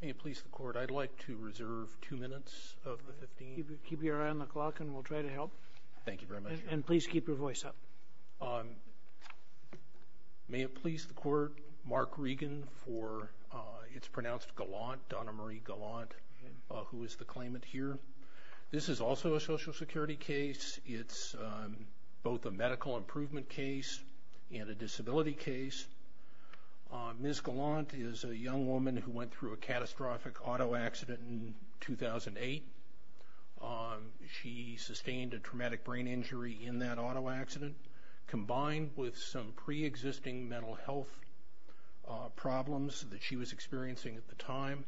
May it please the court I'd like to reserve two minutes. Keep your eye on the clock and we'll try to help. Thank you very much. And please keep your voice up. May it please the court Mark Regan for it's pronounced Gallant Donna Marie Gallant who is the claimant here. This is also a Social Security case it's both a young woman who went through a catastrophic auto accident in 2008. She sustained a traumatic brain injury in that auto accident combined with some pre-existing mental health problems that she was experiencing at the time.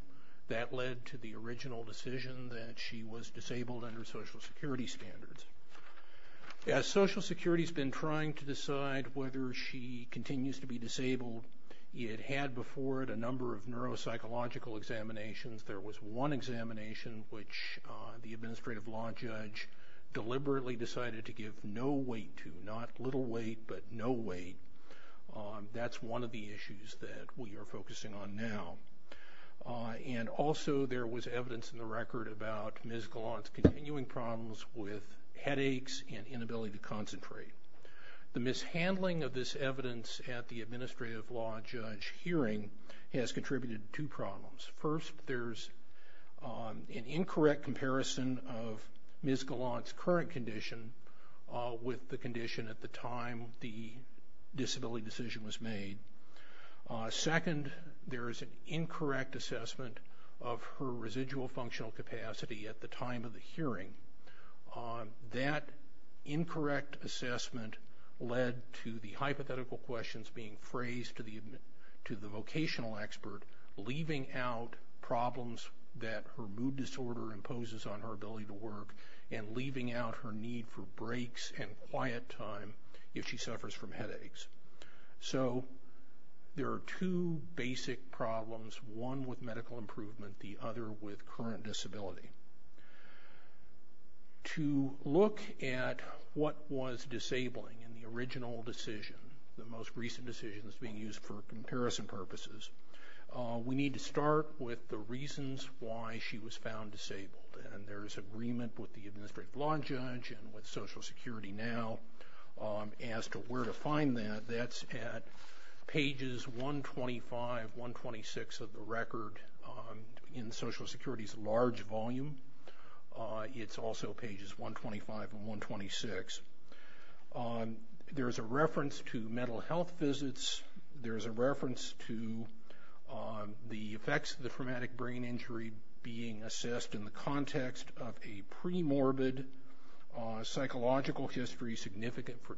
That led to the original decision that she was disabled under Social Security standards. As Social Security's been trying to decide whether she continues to be disabled it had before it a number of neuropsychological examinations. There was one examination which the administrative law judge deliberately decided to give no weight to not little weight but no weight. That's one of the issues that we are focusing on now. And also there was evidence in the record about Ms. Gallant's continuing problems with handling of this evidence at the administrative law judge hearing has contributed to problems. First there's an incorrect comparison of Ms. Gallant's current condition with the condition at the time the disability decision was made. Second there is an incorrect assessment of her residual functional capacity at the time of the hearing. That incorrect assessment led to the hypothetical questions being phrased to the vocational expert leaving out problems that her mood disorder imposes on her ability to work and leaving out her need for breaks and quiet time if she suffers from headaches. So there are two basic problems one with medical improvement the other with current disability. To look at what was disabling in the original decision the most recent decisions being used for comparison purposes we need to start with the reasons why she was found disabled and there is agreement with the administrative law judge and with Social Security now as to where to find that that's at pages 125-126 of the record in Social Security's large volume. It's also pages 125 and 126. There's a reference to mental health visits. There is a reference to the effects of the traumatic brain injury being assessed in the context of a pre-morbid psychological history significant for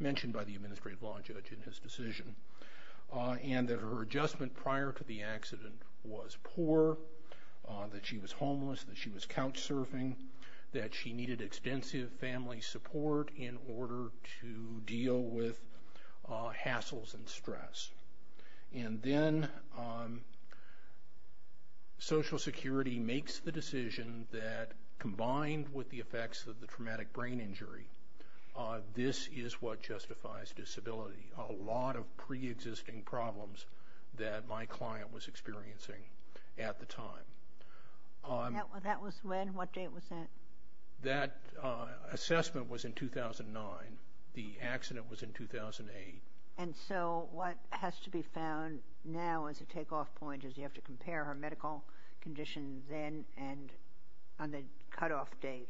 mentioned by the administrative law judge in his decision and that her adjustment prior to the accident was poor, that she was homeless, that she was couch-surfing, that she needed extensive family support in order to deal with hassles and stress. And then Social Security makes the decision that justifies disability. A lot of pre-existing problems that my client was experiencing at the time. That was when? What date was that? That assessment was in 2009. The accident was in 2008. And so what has to be found now as a take-off point is you have to compare her medical conditions then and on the cutoff date.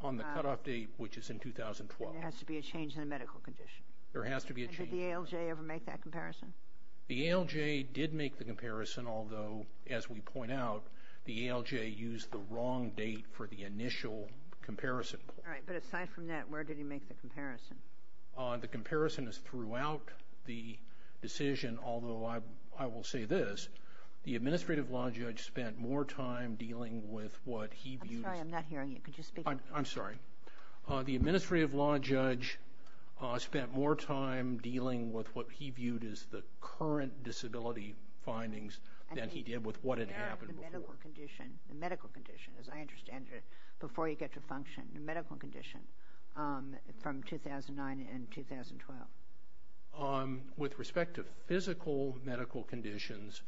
On the cutoff date, which is in 2012. There has to be a change in the medical condition. There has to be a change. Did the ALJ ever make that comparison? The ALJ did make the comparison, although as we point out, the ALJ used the wrong date for the initial comparison. All right, but aside from that, where did he make the comparison? The comparison is throughout the decision, although I will say this, the administrative law judge spent more time dealing with what he viewed as... I'm sorry, I'm not hearing you. Could you speak up? I'm sorry. The administrative law judge spent more time dealing with what he viewed as the current disability findings than he did with what had happened before. The medical condition, as I understand it, before you get to function, the medical condition from 2009 and 2012. With respect to physical medical conditions,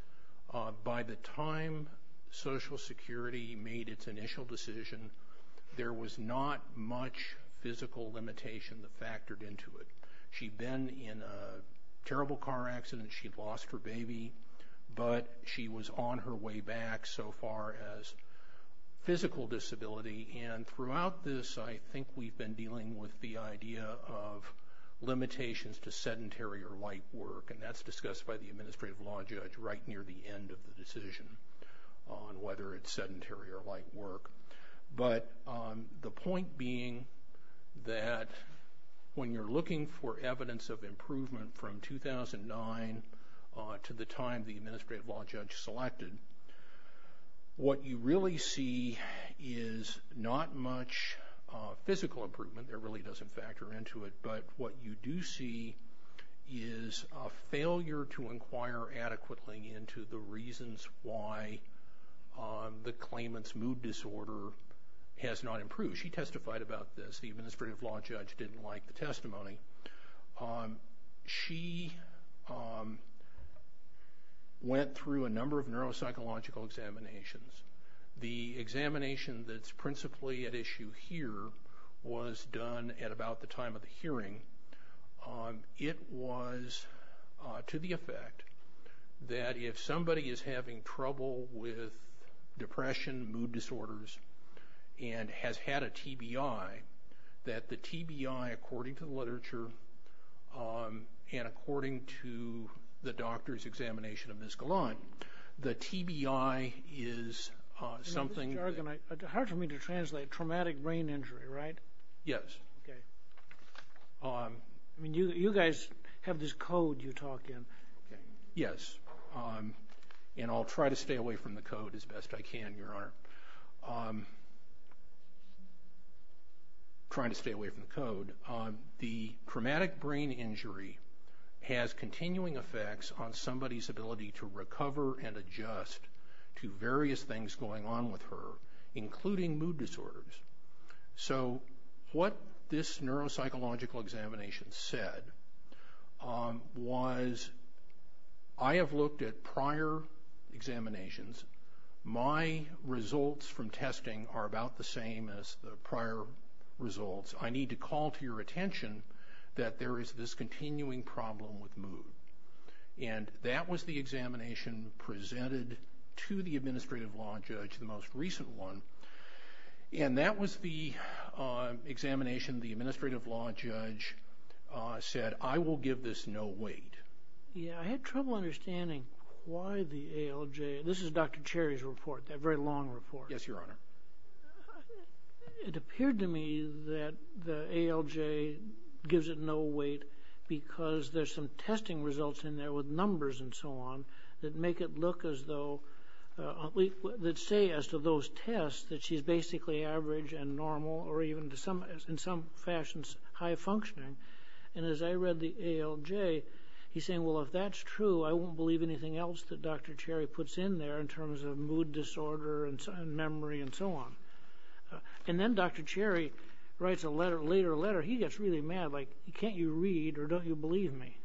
by the time Social Security made its initial decision, there was not much physical limitation that factored into it. She'd been in a terrible car accident. She lost her baby, but she was on her way back so far as physical disability. And throughout this, I think we've been dealing with the idea of limitations to sedentary or light work. And that's discussed by the administrative law judge right near the end of the decision on whether it's sedentary or light work. But the point being that when you're looking for evidence of improvement from 2009 to the time the administrative law judge selected, what you really see is not much physical improvement. There really doesn't factor into it, but what you do see is a failure to inquire adequately into the reasons why the claimant's mood disorder has not improved. She testified about this. The administrative law judge didn't like the testimony. She went through a number of neuropsychological examinations. The examination that's principally at issue here was done at about the time of the that if somebody is having trouble with depression, mood disorders, and has had a TBI, that the TBI, according to the literature, and according to the doctor's examination of Ms. Galan, the TBI is something... It's hard for me to translate. Traumatic brain injury, right? Yes. You guys have this code you talk in. Yes, and I'll try to stay away from the code as best I can, Your Honor. Trying to stay away from the code. The traumatic brain injury has continuing effects on somebody's ability to recover and adjust to various things going on with her, including mood disorders. So what this neuropsychological examination said was, I have looked at prior examinations. My results from testing are about the same as the prior results. I need to call to your attention that there is this continuing problem with mood, and that was the examination presented to the administrative law judge, the most recent one, and that was the examination the administrative law judge said, I will give this no weight. Yeah, I had trouble understanding why the ALJ... This is Dr. Cherry's report, that very long report. Yes, Your Honor. It appeared to me that the ALJ gives it no weight because there's some testing results in there with so on, that make it look as though, that say as to those tests, that she's basically average and normal, or even to some, in some fashions, high-functioning. And as I read the ALJ, he's saying, well if that's true, I won't believe anything else that Dr. Cherry puts in there in terms of mood disorder and memory and so on. And then Dr. Cherry writes a letter, later letter, he gets really mad, like can't you read or don't you believe me?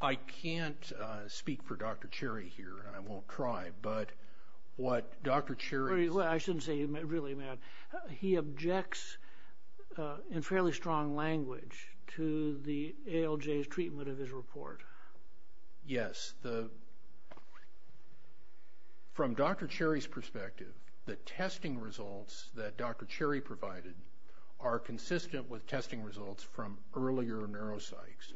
I can't speak for Dr. Cherry here, and I won't try, but what Dr. Cherry... I shouldn't say he's really mad, he objects in fairly strong language to the ALJ's treatment of his report. Yes, the... from Dr. Cherry's perspective, the testing results that Dr. Cherry provided are consistent with testing results from earlier neuropsychs.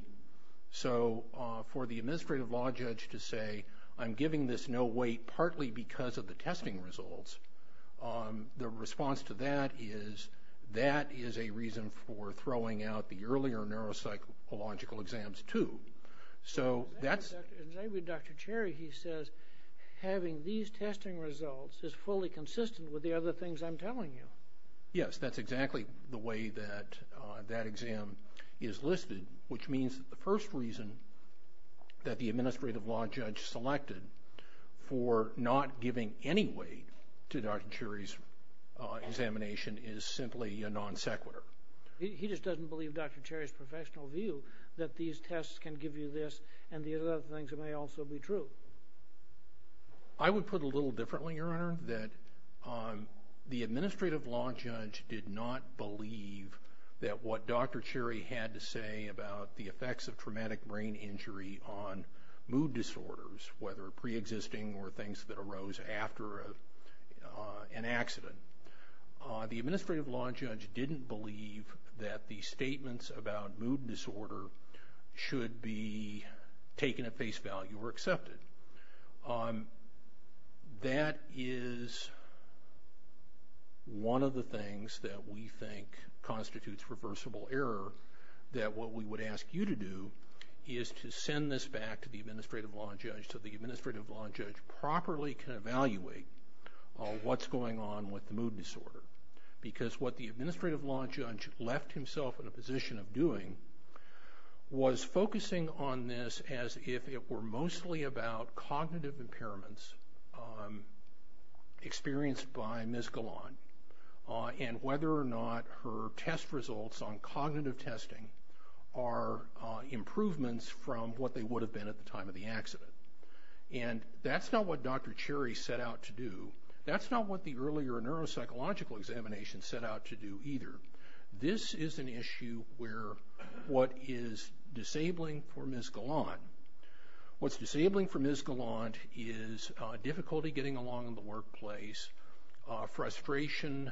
So, for the administrative law judge to say, I'm giving this no weight partly because of the testing results, the response to that is, that is a reason for throwing out the earlier neuropsychological exams too. So, that's... Dr. Cherry, he says, having these testing results is fully consistent with the other things I'm telling you. Yes, that's exactly the way that that exam is listed, which means the first reason that the administrative law judge selected for not giving any weight to Dr. Cherry's examination is simply a non sequitur. He just doesn't believe Dr. Cherry's professional view that these tests can give you this and the other things that may also be true. I would put a little differently, your administrative law judge did not believe that what Dr. Cherry had to say about the effects of traumatic brain injury on mood disorders, whether pre-existing or things that arose after an accident. The administrative law judge didn't believe that the statements about mood disorder should be taken at accepted. That is one of the things that we think constitutes reversible error, that what we would ask you to do is to send this back to the administrative law judge so the administrative law judge properly can evaluate what's going on with the mood disorder. Because what the administrative law judge left himself in about cognitive impairments experienced by Ms. Galan and whether or not her test results on cognitive testing are improvements from what they would have been at the time of the accident. And that's not what Dr. Cherry set out to do. That's not what the earlier neuropsychological examination set out to do either. This is an issue where what is disabling for Ms. Galan, what's disabling for Ms. Galan is difficulty getting along in the workplace, frustration,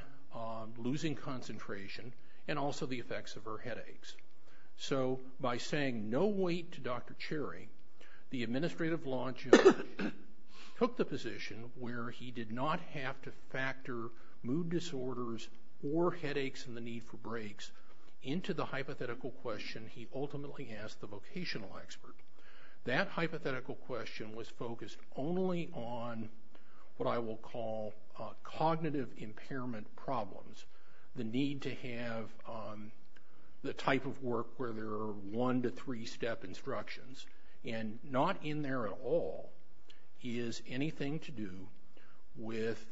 losing concentration, and also the effects of her headaches. So by saying no wait to Dr. Cherry, the administrative law judge took the position where he did not have to factor mood disorders or headaches and the need for breaks into the hypothetical question he ultimately asked the question was focused only on what I will call cognitive impairment problems. The need to have the type of work where there are one to three step instructions and not in there at all is anything to do with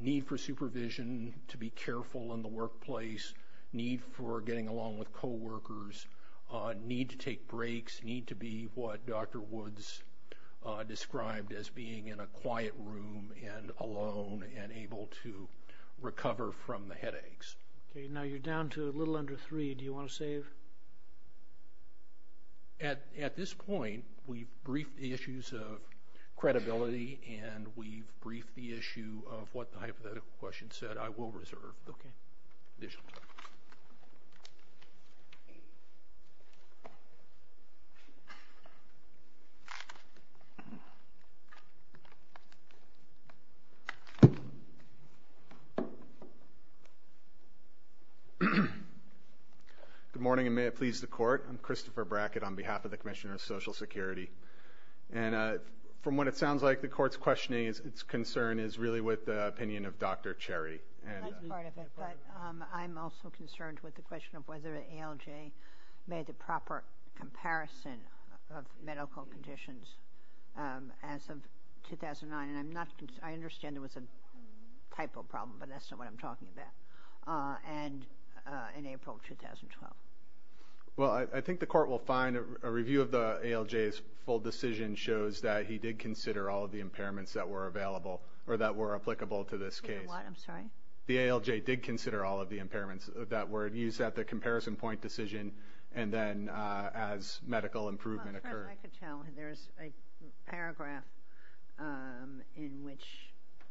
need for supervision, to be careful in the workplace, need for getting along with co-workers, need to take breaks, need to be what Dr. Woods described as being in a quiet room and alone and able to recover from the headaches. Okay, now you're down to a little under three. Do you want to save? At this point, we've briefed the issues of credibility and we've briefed the issue of what the hypothetical question said I will reserve. Good morning and may it please the court I'm Christopher Brackett on behalf of the Commissioner of Social Security and from what it sounds like the court's questioning is its concern is really with the opinion of Dr. Cherry and I'm also concerned with the question of whether ALJ made the proper comparison of medical conditions as of 2009 and I'm not I understand there was a typo problem but that's not what I'm talking about and in April 2012. Well I think the court will find a review of the ALJ's full decision shows that he did consider all of the impairments that were available or that were applicable to this case. I'm sorry? The ALJ did consider all of the impairments that were used at the comparison point decision and then as medical improvement occurred. I could tell there's a paragraph in which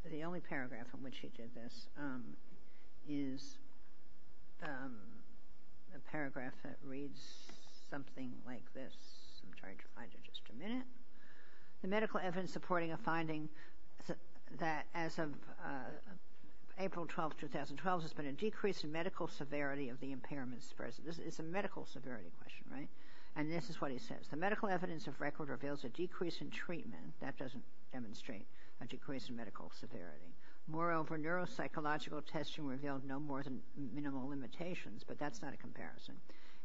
the only paragraph in which he did this is a paragraph that reads something like this I'm trying to find it just a minute the medical evidence supporting a finding that as of April 12, 2012 has been a decrease in medical severity of the impairments present. This is a medical severity question right and this is what he says the medical evidence of record reveals a decrease in treatment that doesn't demonstrate a decrease in medical severity. Moreover neuropsychological testing revealed no more than minimal limitations but that's not a comparison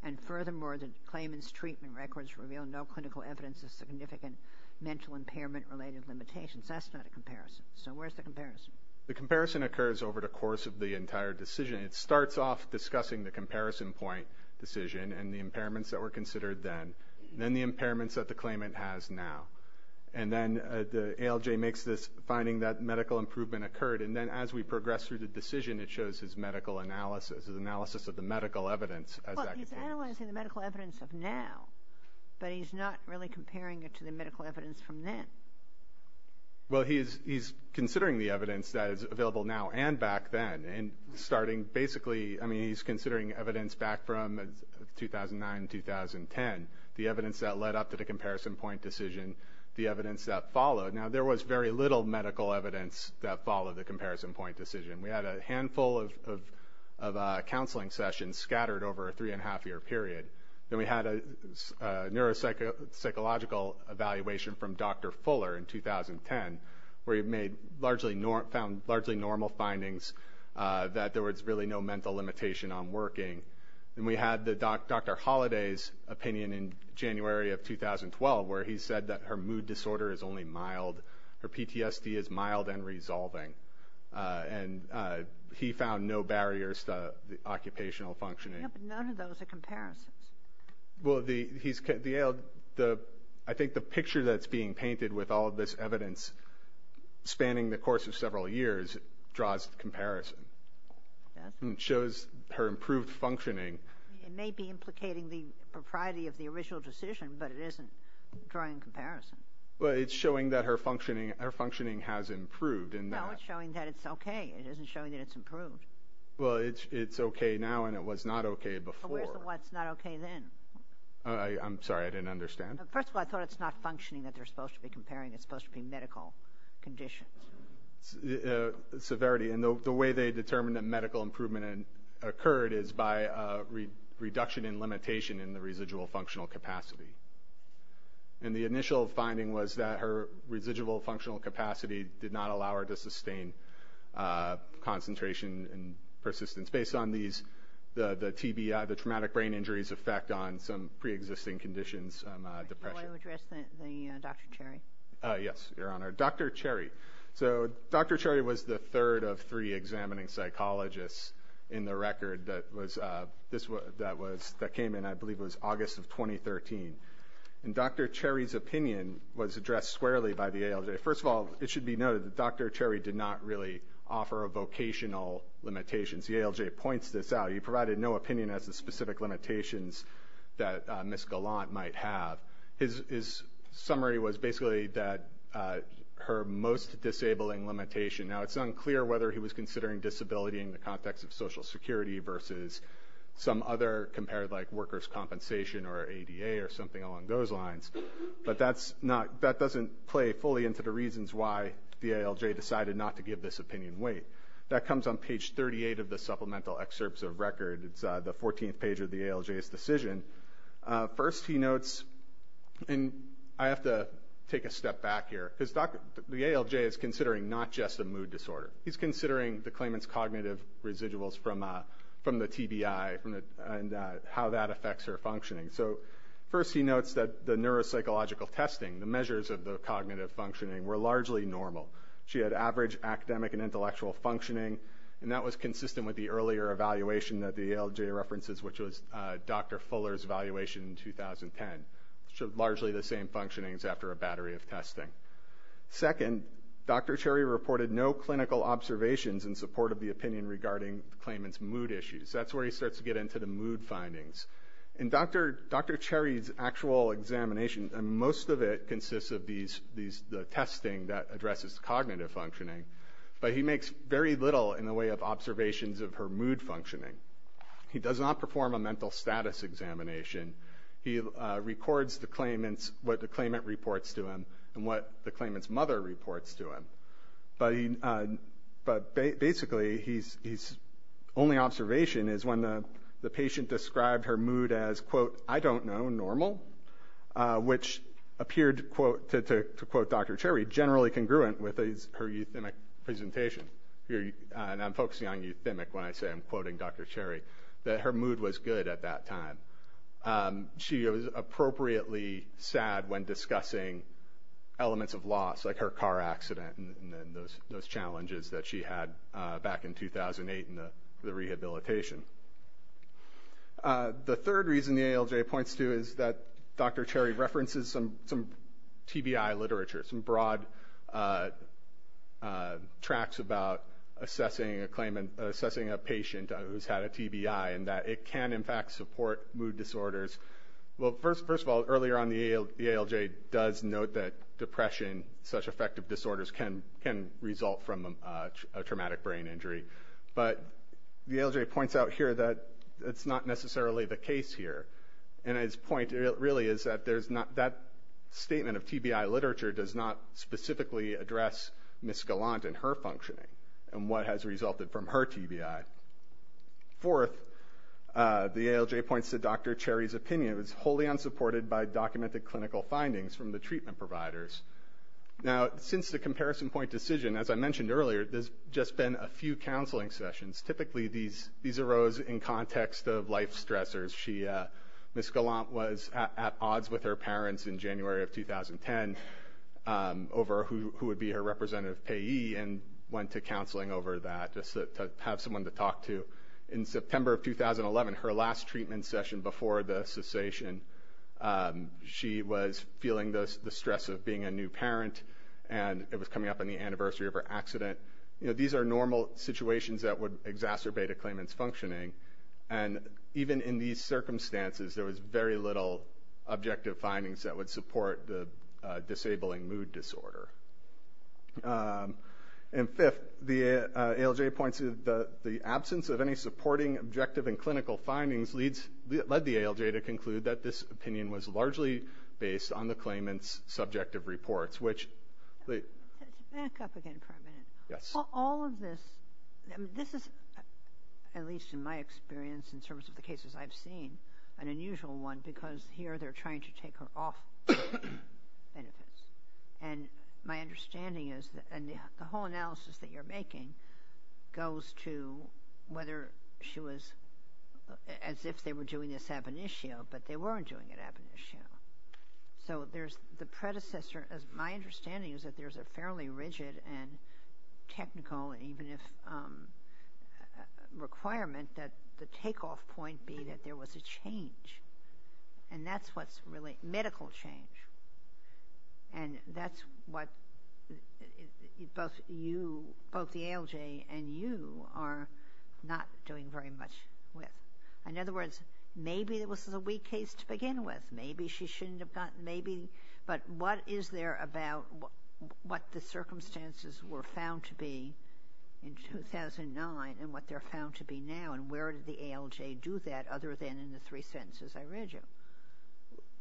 and furthermore the claimants treatment records reveal no clinical evidence of significant mental impairment related limitations that's not a comparison. So where's the comparison? The comparison occurs over the course of the entire decision it starts off discussing the comparison point decision and the impairments that were considered then then the impairments that the claimant has now and then the ALJ makes this finding that medical improvement occurred and then as we progress through the decision it shows his medical analysis of the medical evidence. He's analyzing the medical evidence of now but he's not really well he's he's considering the evidence that is available now and back then and starting basically I mean he's considering evidence back from 2009-2010 the evidence that led up to the comparison point decision the evidence that followed now there was very little medical evidence that followed the comparison point decision we had a handful of counseling sessions scattered over a three and a half year period then we had a neuropsychological evaluation from Dr. Fuller in 2010 where he made largely found largely normal findings that there was really no mental limitation on working and we had the Dr. Holliday's opinion in January of 2012 where he said that her mood disorder is only mild her PTSD is mild and resolving and he found no barriers to the occupational functioning. None of those are comparisons. Well he's I think the picture that's being painted with all of this evidence spanning the course of several years draws comparison and shows her improved functioning. It may be implicating the propriety of the original decision but it isn't drawing comparison. Well it's showing that her functioning her functioning has improved and now it's showing that it's okay it isn't showing that it's improved. Well it's it's okay now and it was not okay before. What's not okay then? I'm sorry I didn't understand. First of all I thought it's not functioning that they're supposed to be comparing it's supposed to be medical conditions. Severity and the way they determined that medical improvement occurred is by a reduction in limitation in the residual functional capacity and the initial finding was that her residual functional capacity did not allow her to sustain concentration and persistence based on these the the TBI the traumatic brain injuries effect on some pre-existing conditions. Dr. Cherry so Dr. Cherry was the third of three examining psychologists in the record that was this was that was that came in I believe was August of 2013 and Dr. Cherry's opinion was addressed squarely by the ALJ. First of all it should be noted that Dr. Cherry did not really offer a vocational limitations. The ALJ points this out. He provided no opinion as the specific limitations that Ms. Gallant might have. His summary was basically that her most disabling limitation now it's unclear whether he was considering disability in the context of Social Security versus some other compared like workers compensation or ADA or something along those lines but that's not that doesn't play fully into the reasons why the ALJ decided not to give this opinion weight. That comes on page 38 of the supplemental excerpts of record. It's the 14th page of the ALJ's decision. First he notes and I have to take a step back here because the ALJ is considering not just a mood disorder. He's considering the claimants cognitive residuals from from the TBI and how that affects her functioning. So first he notes that the neuropsychological testing the measures of the cognitive functioning were largely normal. She had average academic and intellectual functioning and that was consistent with the earlier evaluation that the ALJ references which was Dr. Fuller's evaluation in 2010. So largely the same functionings after a battery of testing. Second Dr. Cherry reported no clinical observations in support of the opinion regarding claimants mood issues. That's where he starts to get into the mood findings. In Dr. Dr. Cherry's actual examination and most of it consists of these these the testing that addresses cognitive functioning. But he makes very little in the way of observations of her mood functioning. He does not perform a mental status examination. He records the claimants what the claimant reports to him and what the claimants mother reports to him. But basically he's only observation is when the patient described her mood as quote I don't know normal which appeared quote to quote Dr. Cherry generally congruent with her euthymic presentation. I'm focusing on euthymic when I say I'm quoting Dr. Cherry. That her mood was good at that time. She was appropriately sad when discussing elements of loss like her car accident and those challenges that she had back in 2008 in the rehabilitation. The third reason the ALJ points to is that Dr. Cherry references some some TBI literature. Some broad tracks about assessing a claimant assessing a patient who's had a TBI and that it can in fact support mood disorders. Well first first of all earlier on the ALJ does note that depression such affective disorders can can result from a traumatic brain injury. But the ALJ points out here that it's not necessarily the case here. And his point really is that there's not that statement of TBI literature does not specifically address Ms. Gallant and her functioning and what has resulted from her TBI. Fourth the ALJ points to Dr. Cherry's opinion was wholly unsupported by documented clinical findings from the treatment providers. Now since the comparison point decision as I mentioned earlier there's just been a few counseling sessions. Typically these these arose in context of life stressors. Ms. Gallant was at odds with her parents in January of 2010 over who would be her representative payee and went to counseling over that just to have someone to talk to. In September of 2011 her last treatment session before the cessation she was feeling the stress of being a new parent and it was coming up on the anniversary of her accident. You know these are normal situations that would exacerbate a claimant's functioning and even in these circumstances there was very little objective findings that would support the disabling mood disorder. And fifth the ALJ points to the the absence of any supporting objective and clinical findings leads led the ALJ to conclude that this at least in my experience in terms of the cases I've seen an unusual one because here they're trying to take her off benefits. And my understanding is that and the whole analysis that you're making goes to whether she was as if they were doing this ab initio but they weren't doing it ab initio. So there's the predecessor as my understanding is that there's a fairly rigid and requirement that the takeoff point be that there was a change and that's what's really medical change and that's what both you both the ALJ and you are not doing very much with. In other words maybe there was a weak case to begin with maybe she shouldn't have gotten maybe but what is there about what the circumstances were found to be in 2009 and what they're found to be now and where did the ALJ do that other than in the three sentences I read you?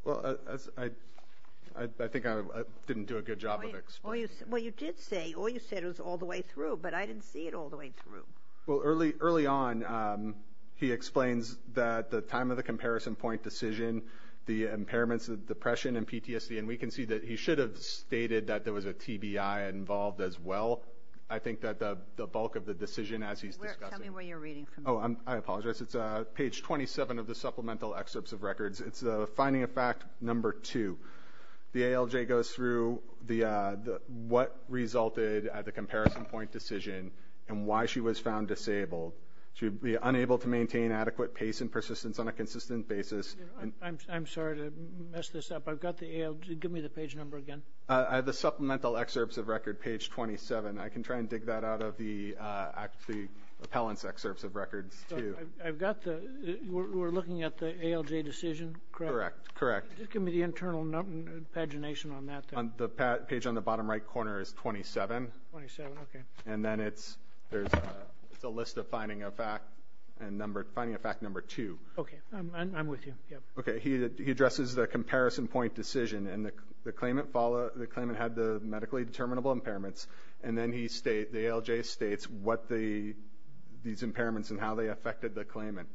Well as I think I didn't do a good job of explaining. Well you did say all you said was all the way through but I didn't see it all the way through. Well early early on he explains that the time of the comparison point decision the impairments of depression and PTSD and we can see that he should have stated that there was a TBI involved as well. I think that the bulk of the decision as he's discussing. Tell me where you're reading from. Oh I apologize it's a page 27 of the supplemental excerpts of records it's a finding a fact number two. The ALJ goes through the what resulted at the comparison point decision and why she was found disabled. She would be unable to maintain adequate pace and persistence on a consistent basis. I'm sorry to mess this up I've got the ALJ give me the page number again. I have the supplemental excerpts of record page 27 I can try and dig that out of the actually appellants excerpts of records. I've got the we're looking at the ALJ decision correct? Correct. Give me the internal pagination on that. The page on the bottom right corner is 27 and then it's there's a list of finding a fact and number finding a fact number two. Okay I'm with you. Okay he addresses the comparison point decision and the claimant follow the claimant had the medically determinable impairments and then he state the ALJ states what the these impairments and how they affected the claimant.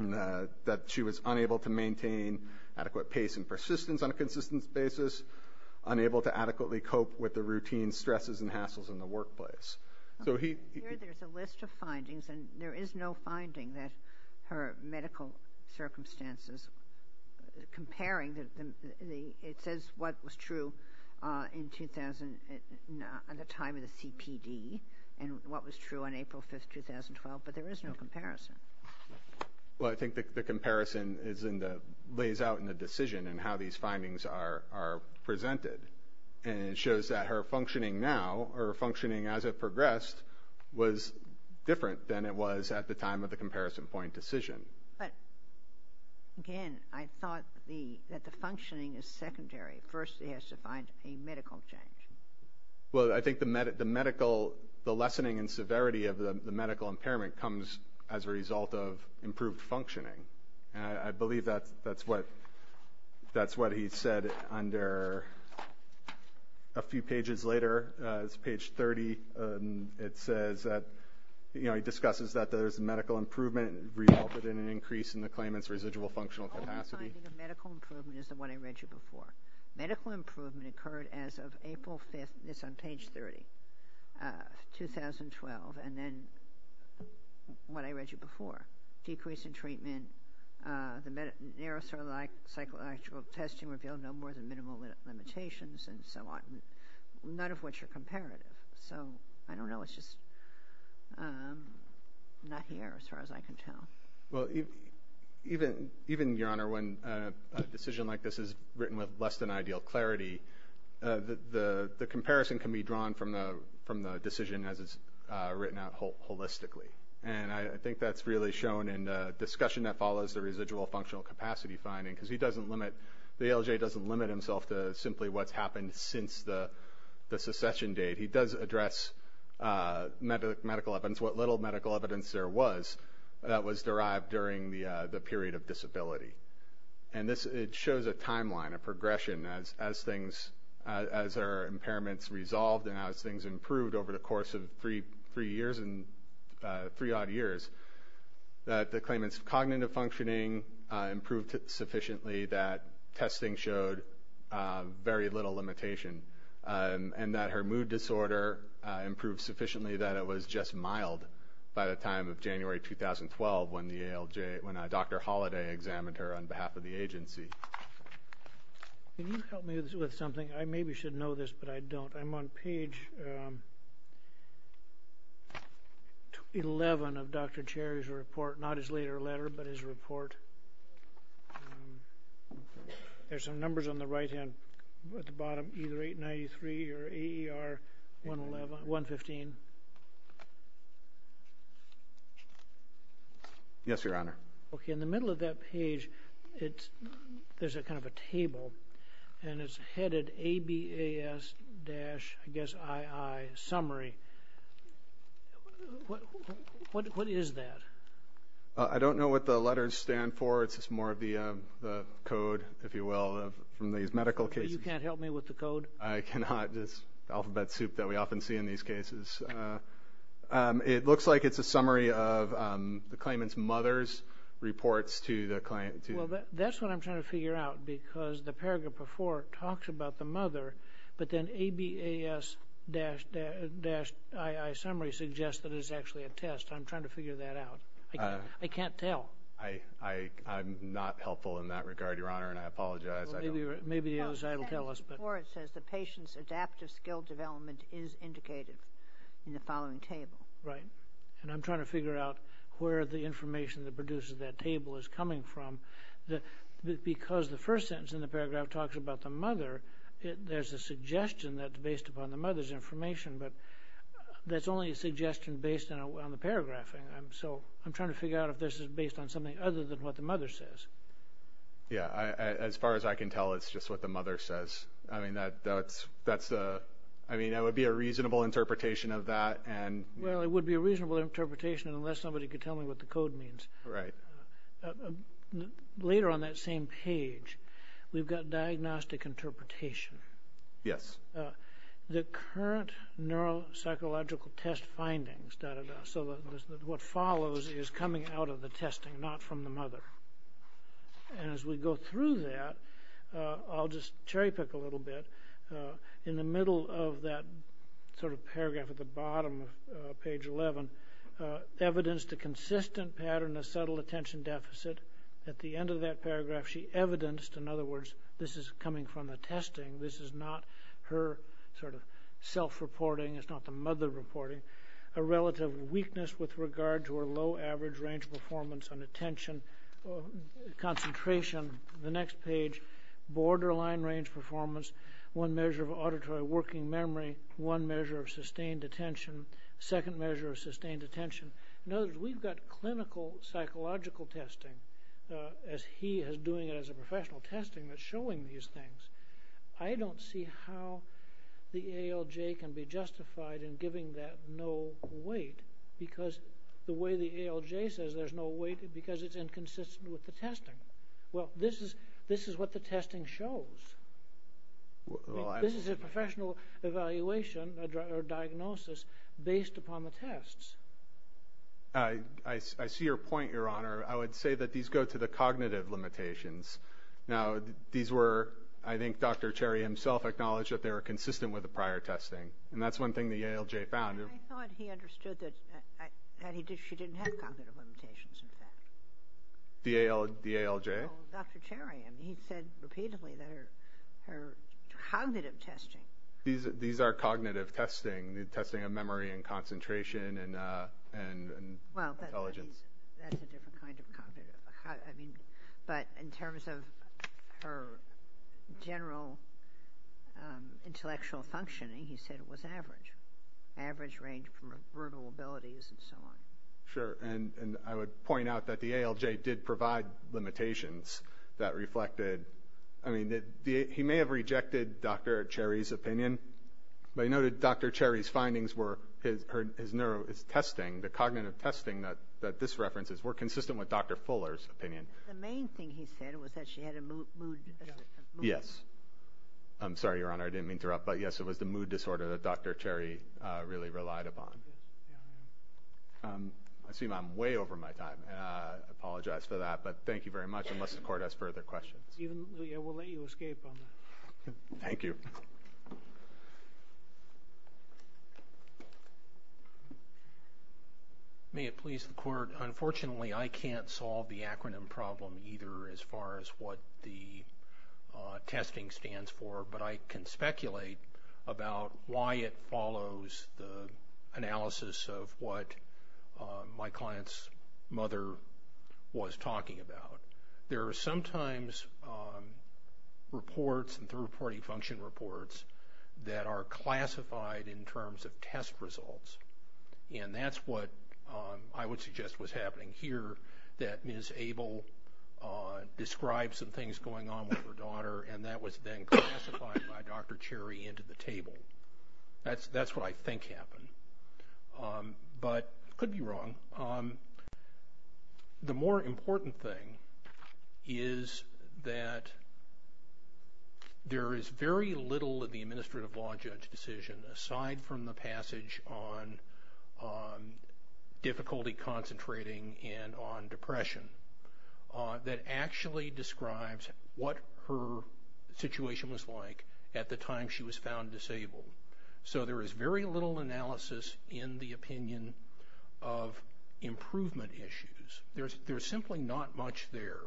That she was unable to maintain adequate pace and persistence on a consistent basis. Unable to adequately cope with the routine stresses and hassles in the workplace. So he there's a list of findings and there is no finding that her medical circumstances comparing the it says what was true in 2000 at the time of the CPD and what was true on April 5th 2012 but there is no comparison. Well I think the comparison is in the lays out in the decision and how these findings are presented and it shows that her functioning now or functioning as it progressed was different than it was at the time of the comparison point decision. But again I thought the that the functioning is secondary first he has to find a medical change. Well I think the medical the lessening in severity of the medical impairment comes as a result of improved functioning and I believe that that's what that's what he said under a few pages later as page 30 it says that you know he discusses that there's a medical improvement resulted in an increase in the claimants residual functional capacity. The medical improvement is the one I read you before. Medical improvement occurred as of April 5th it's on page 30 2012 and then what I read you before decrease in treatment the narrow sort of like psychological testing revealed no more than minimal limitations and so on none of which are comparative so I don't know it's just not here as far as I can tell. Well even even even your honor when a decision like this is written with less than ideal clarity the the the comparison can be drawn from the from the decision as it's written out holistically and I think that's really shown in discussion that follows the residual functional capacity finding because he doesn't limit the ALJ doesn't limit himself to simply what's happened since the the secession date he does address medical evidence what little medical evidence there was that was derived during the the period of disability and this it shows a timeline a progression as as things as our impairments resolved and as things improved over the course of three three years and three odd years that the claimants cognitive functioning improved sufficiently that testing showed very little limitation and that her mood disorder improved sufficiently that it was just mild by the time of January 2012 when the ALJ when I Dr. Holliday examined her on behalf of the agency. Can you help me with something I maybe should know this but I don't I'm on page 11 of Dr. Cherry's report not his later letter but his report there's some numbers on the right hand at the bottom either 893 or AER 115. Yes your honor. Okay in the middle of that page it there's a kind of a table and it's headed ABAS dash I guess II summary what what is that? I don't know what the letters stand for it's just more of the code if you will from these medical cases. You can't help me with the code? I cannot just alphabet soup that we often see in these cases. It looks like it's a summary of the claimant's mother's reports to the client. That's what I'm trying to figure out because the paragraph before talks about the mother but then ABAS dash III summary suggests that it's actually a test I'm trying to figure that out. I can't tell. I'm not helpful in that regard your honor and I apologize. Maybe the other side will tell us. It says the patient's adaptive skill development is indicated in the following table. Right and I'm trying to figure out where the information that produces that table is coming from that because the first sentence in the paragraph talks about the mother there's a suggestion that's based upon the mother's information but that's only a so I'm trying to figure out if this is based on something other than what the mother says. Yeah as far as I can tell it's just what the mother says I mean that that's that's the I mean it would be a reasonable interpretation of that and well it would be a reasonable interpretation unless somebody could tell me what the code means. Right. Later on that same page we've got diagnostic interpretation. Yes. The current neuropsychological test findings so that what follows is coming out of the testing not from the mother and as we go through that I'll just cherry-pick a little bit in the middle of that sort of paragraph at the bottom of page 11 evidenced a consistent pattern of subtle attention deficit at the end of that paragraph she evidenced in other words this is coming from the testing this is not her sort of self reporting it's not a mother reporting a relative weakness with regard to her low average range performance on attention concentration the next page borderline range performance one measure of auditory working memory one measure of sustained attention second measure of sustained attention in other words we've got clinical psychological testing as he is doing it as a professional testing that's see how the ALJ can be justified in giving that no weight because the way the ALJ says there's no weight because it's inconsistent with the testing well this is this is what the testing shows this is a professional evaluation or diagnosis based upon the tests I see your point your honor I would say that these go to the cognitive limitations now these were I think dr. Cherry him self-acknowledged that they were consistent with the prior testing and that's one thing the ALJ found he understood that he did she didn't have cognitive limitations in fact the ALJ dr. cherry and he said repeatedly there her cognitive testing these these are cognitive testing the testing of memory and concentration and but in terms of her general intellectual functioning he said it was average average range from brutal abilities and so on sure and and I would point out that the ALJ did provide limitations that reflected I mean that he may have rejected dr. Cherry's opinion but he noted dr. Cherry's findings were his her his neuro is testing the cognitive testing that that this references were consistent with yes I'm sorry your honor I didn't mean to interrupt but yes it was the mood disorder that dr. Cherry really relied upon I assume I'm way over my time I apologize for that but thank you very much unless the court has further questions thank you may it please the court unfortunately I can't solve the acronym problem either as far as what the testing stands for but I can speculate about why it follows the analysis of what my client's mother was talking about there are sometimes reports and third-party function reports that are classified in terms of test results and that's what I would suggest was happening here that is described some things going on with her daughter and that was then classified by dr. Cherry into the table that's that's what I think happened but could be wrong the more important thing is that there is very little of the administrative law judge decision aside from the passage on difficulty concentrating and on depression that actually describes what her situation was like at the time she was found disabled so there is very little analysis in the opinion of improvement issues there's there's simply not much there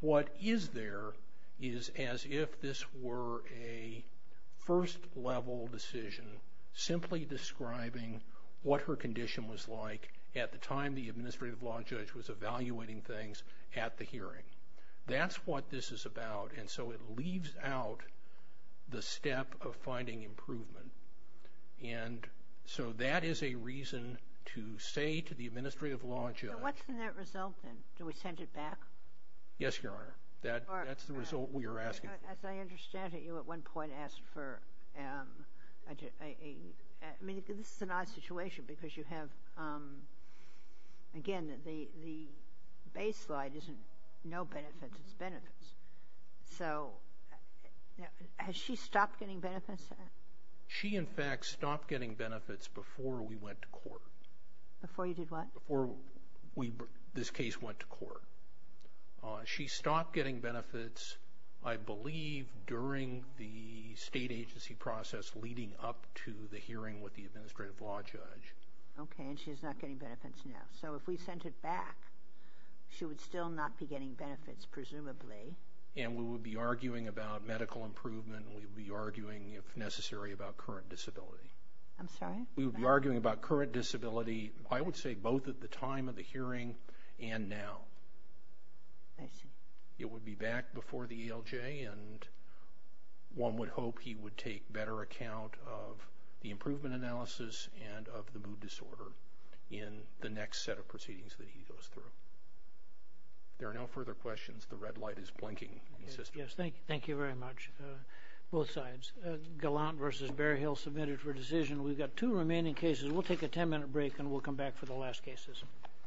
what is there is as if this were a first-level decision simply describing what her condition was like at the time the administrative law judge was evaluating things at the hearing that's what this is about and so it leaves out the step of finding improvement and so that is a reason to say to the administrative law judge what's the net result then do we send it back yes your honor that that's the result we are asking as I understand it you at one point asked for I mean this is a nice situation because you have again the the baseline isn't no benefits it's benefits so has she stopped getting benefits she in fact stopped getting benefits before we went to court before you did what before we this case went to court she stopped getting benefits I believe during the state agency process leading up to the hearing with the administrative law judge okay and she's not getting benefits now so if we sent it back she would still not be getting benefits presumably and we would be arguing about medical improvement we would be arguing if necessary about current disability I'm sorry we would be arguing about current disability I would say both at the time of the hearing and now I see it would be back before the ELJ and one would hope he would take better account of the improvement analysis and of the mood disorder in the next set of proceedings that he goes through there are no further questions the red light is blinking yes thank you thank you very much both sides Gallant versus Bear Hill submitted for decision we've got two remaining cases we'll take a 10-minute break and we'll come back for the last cases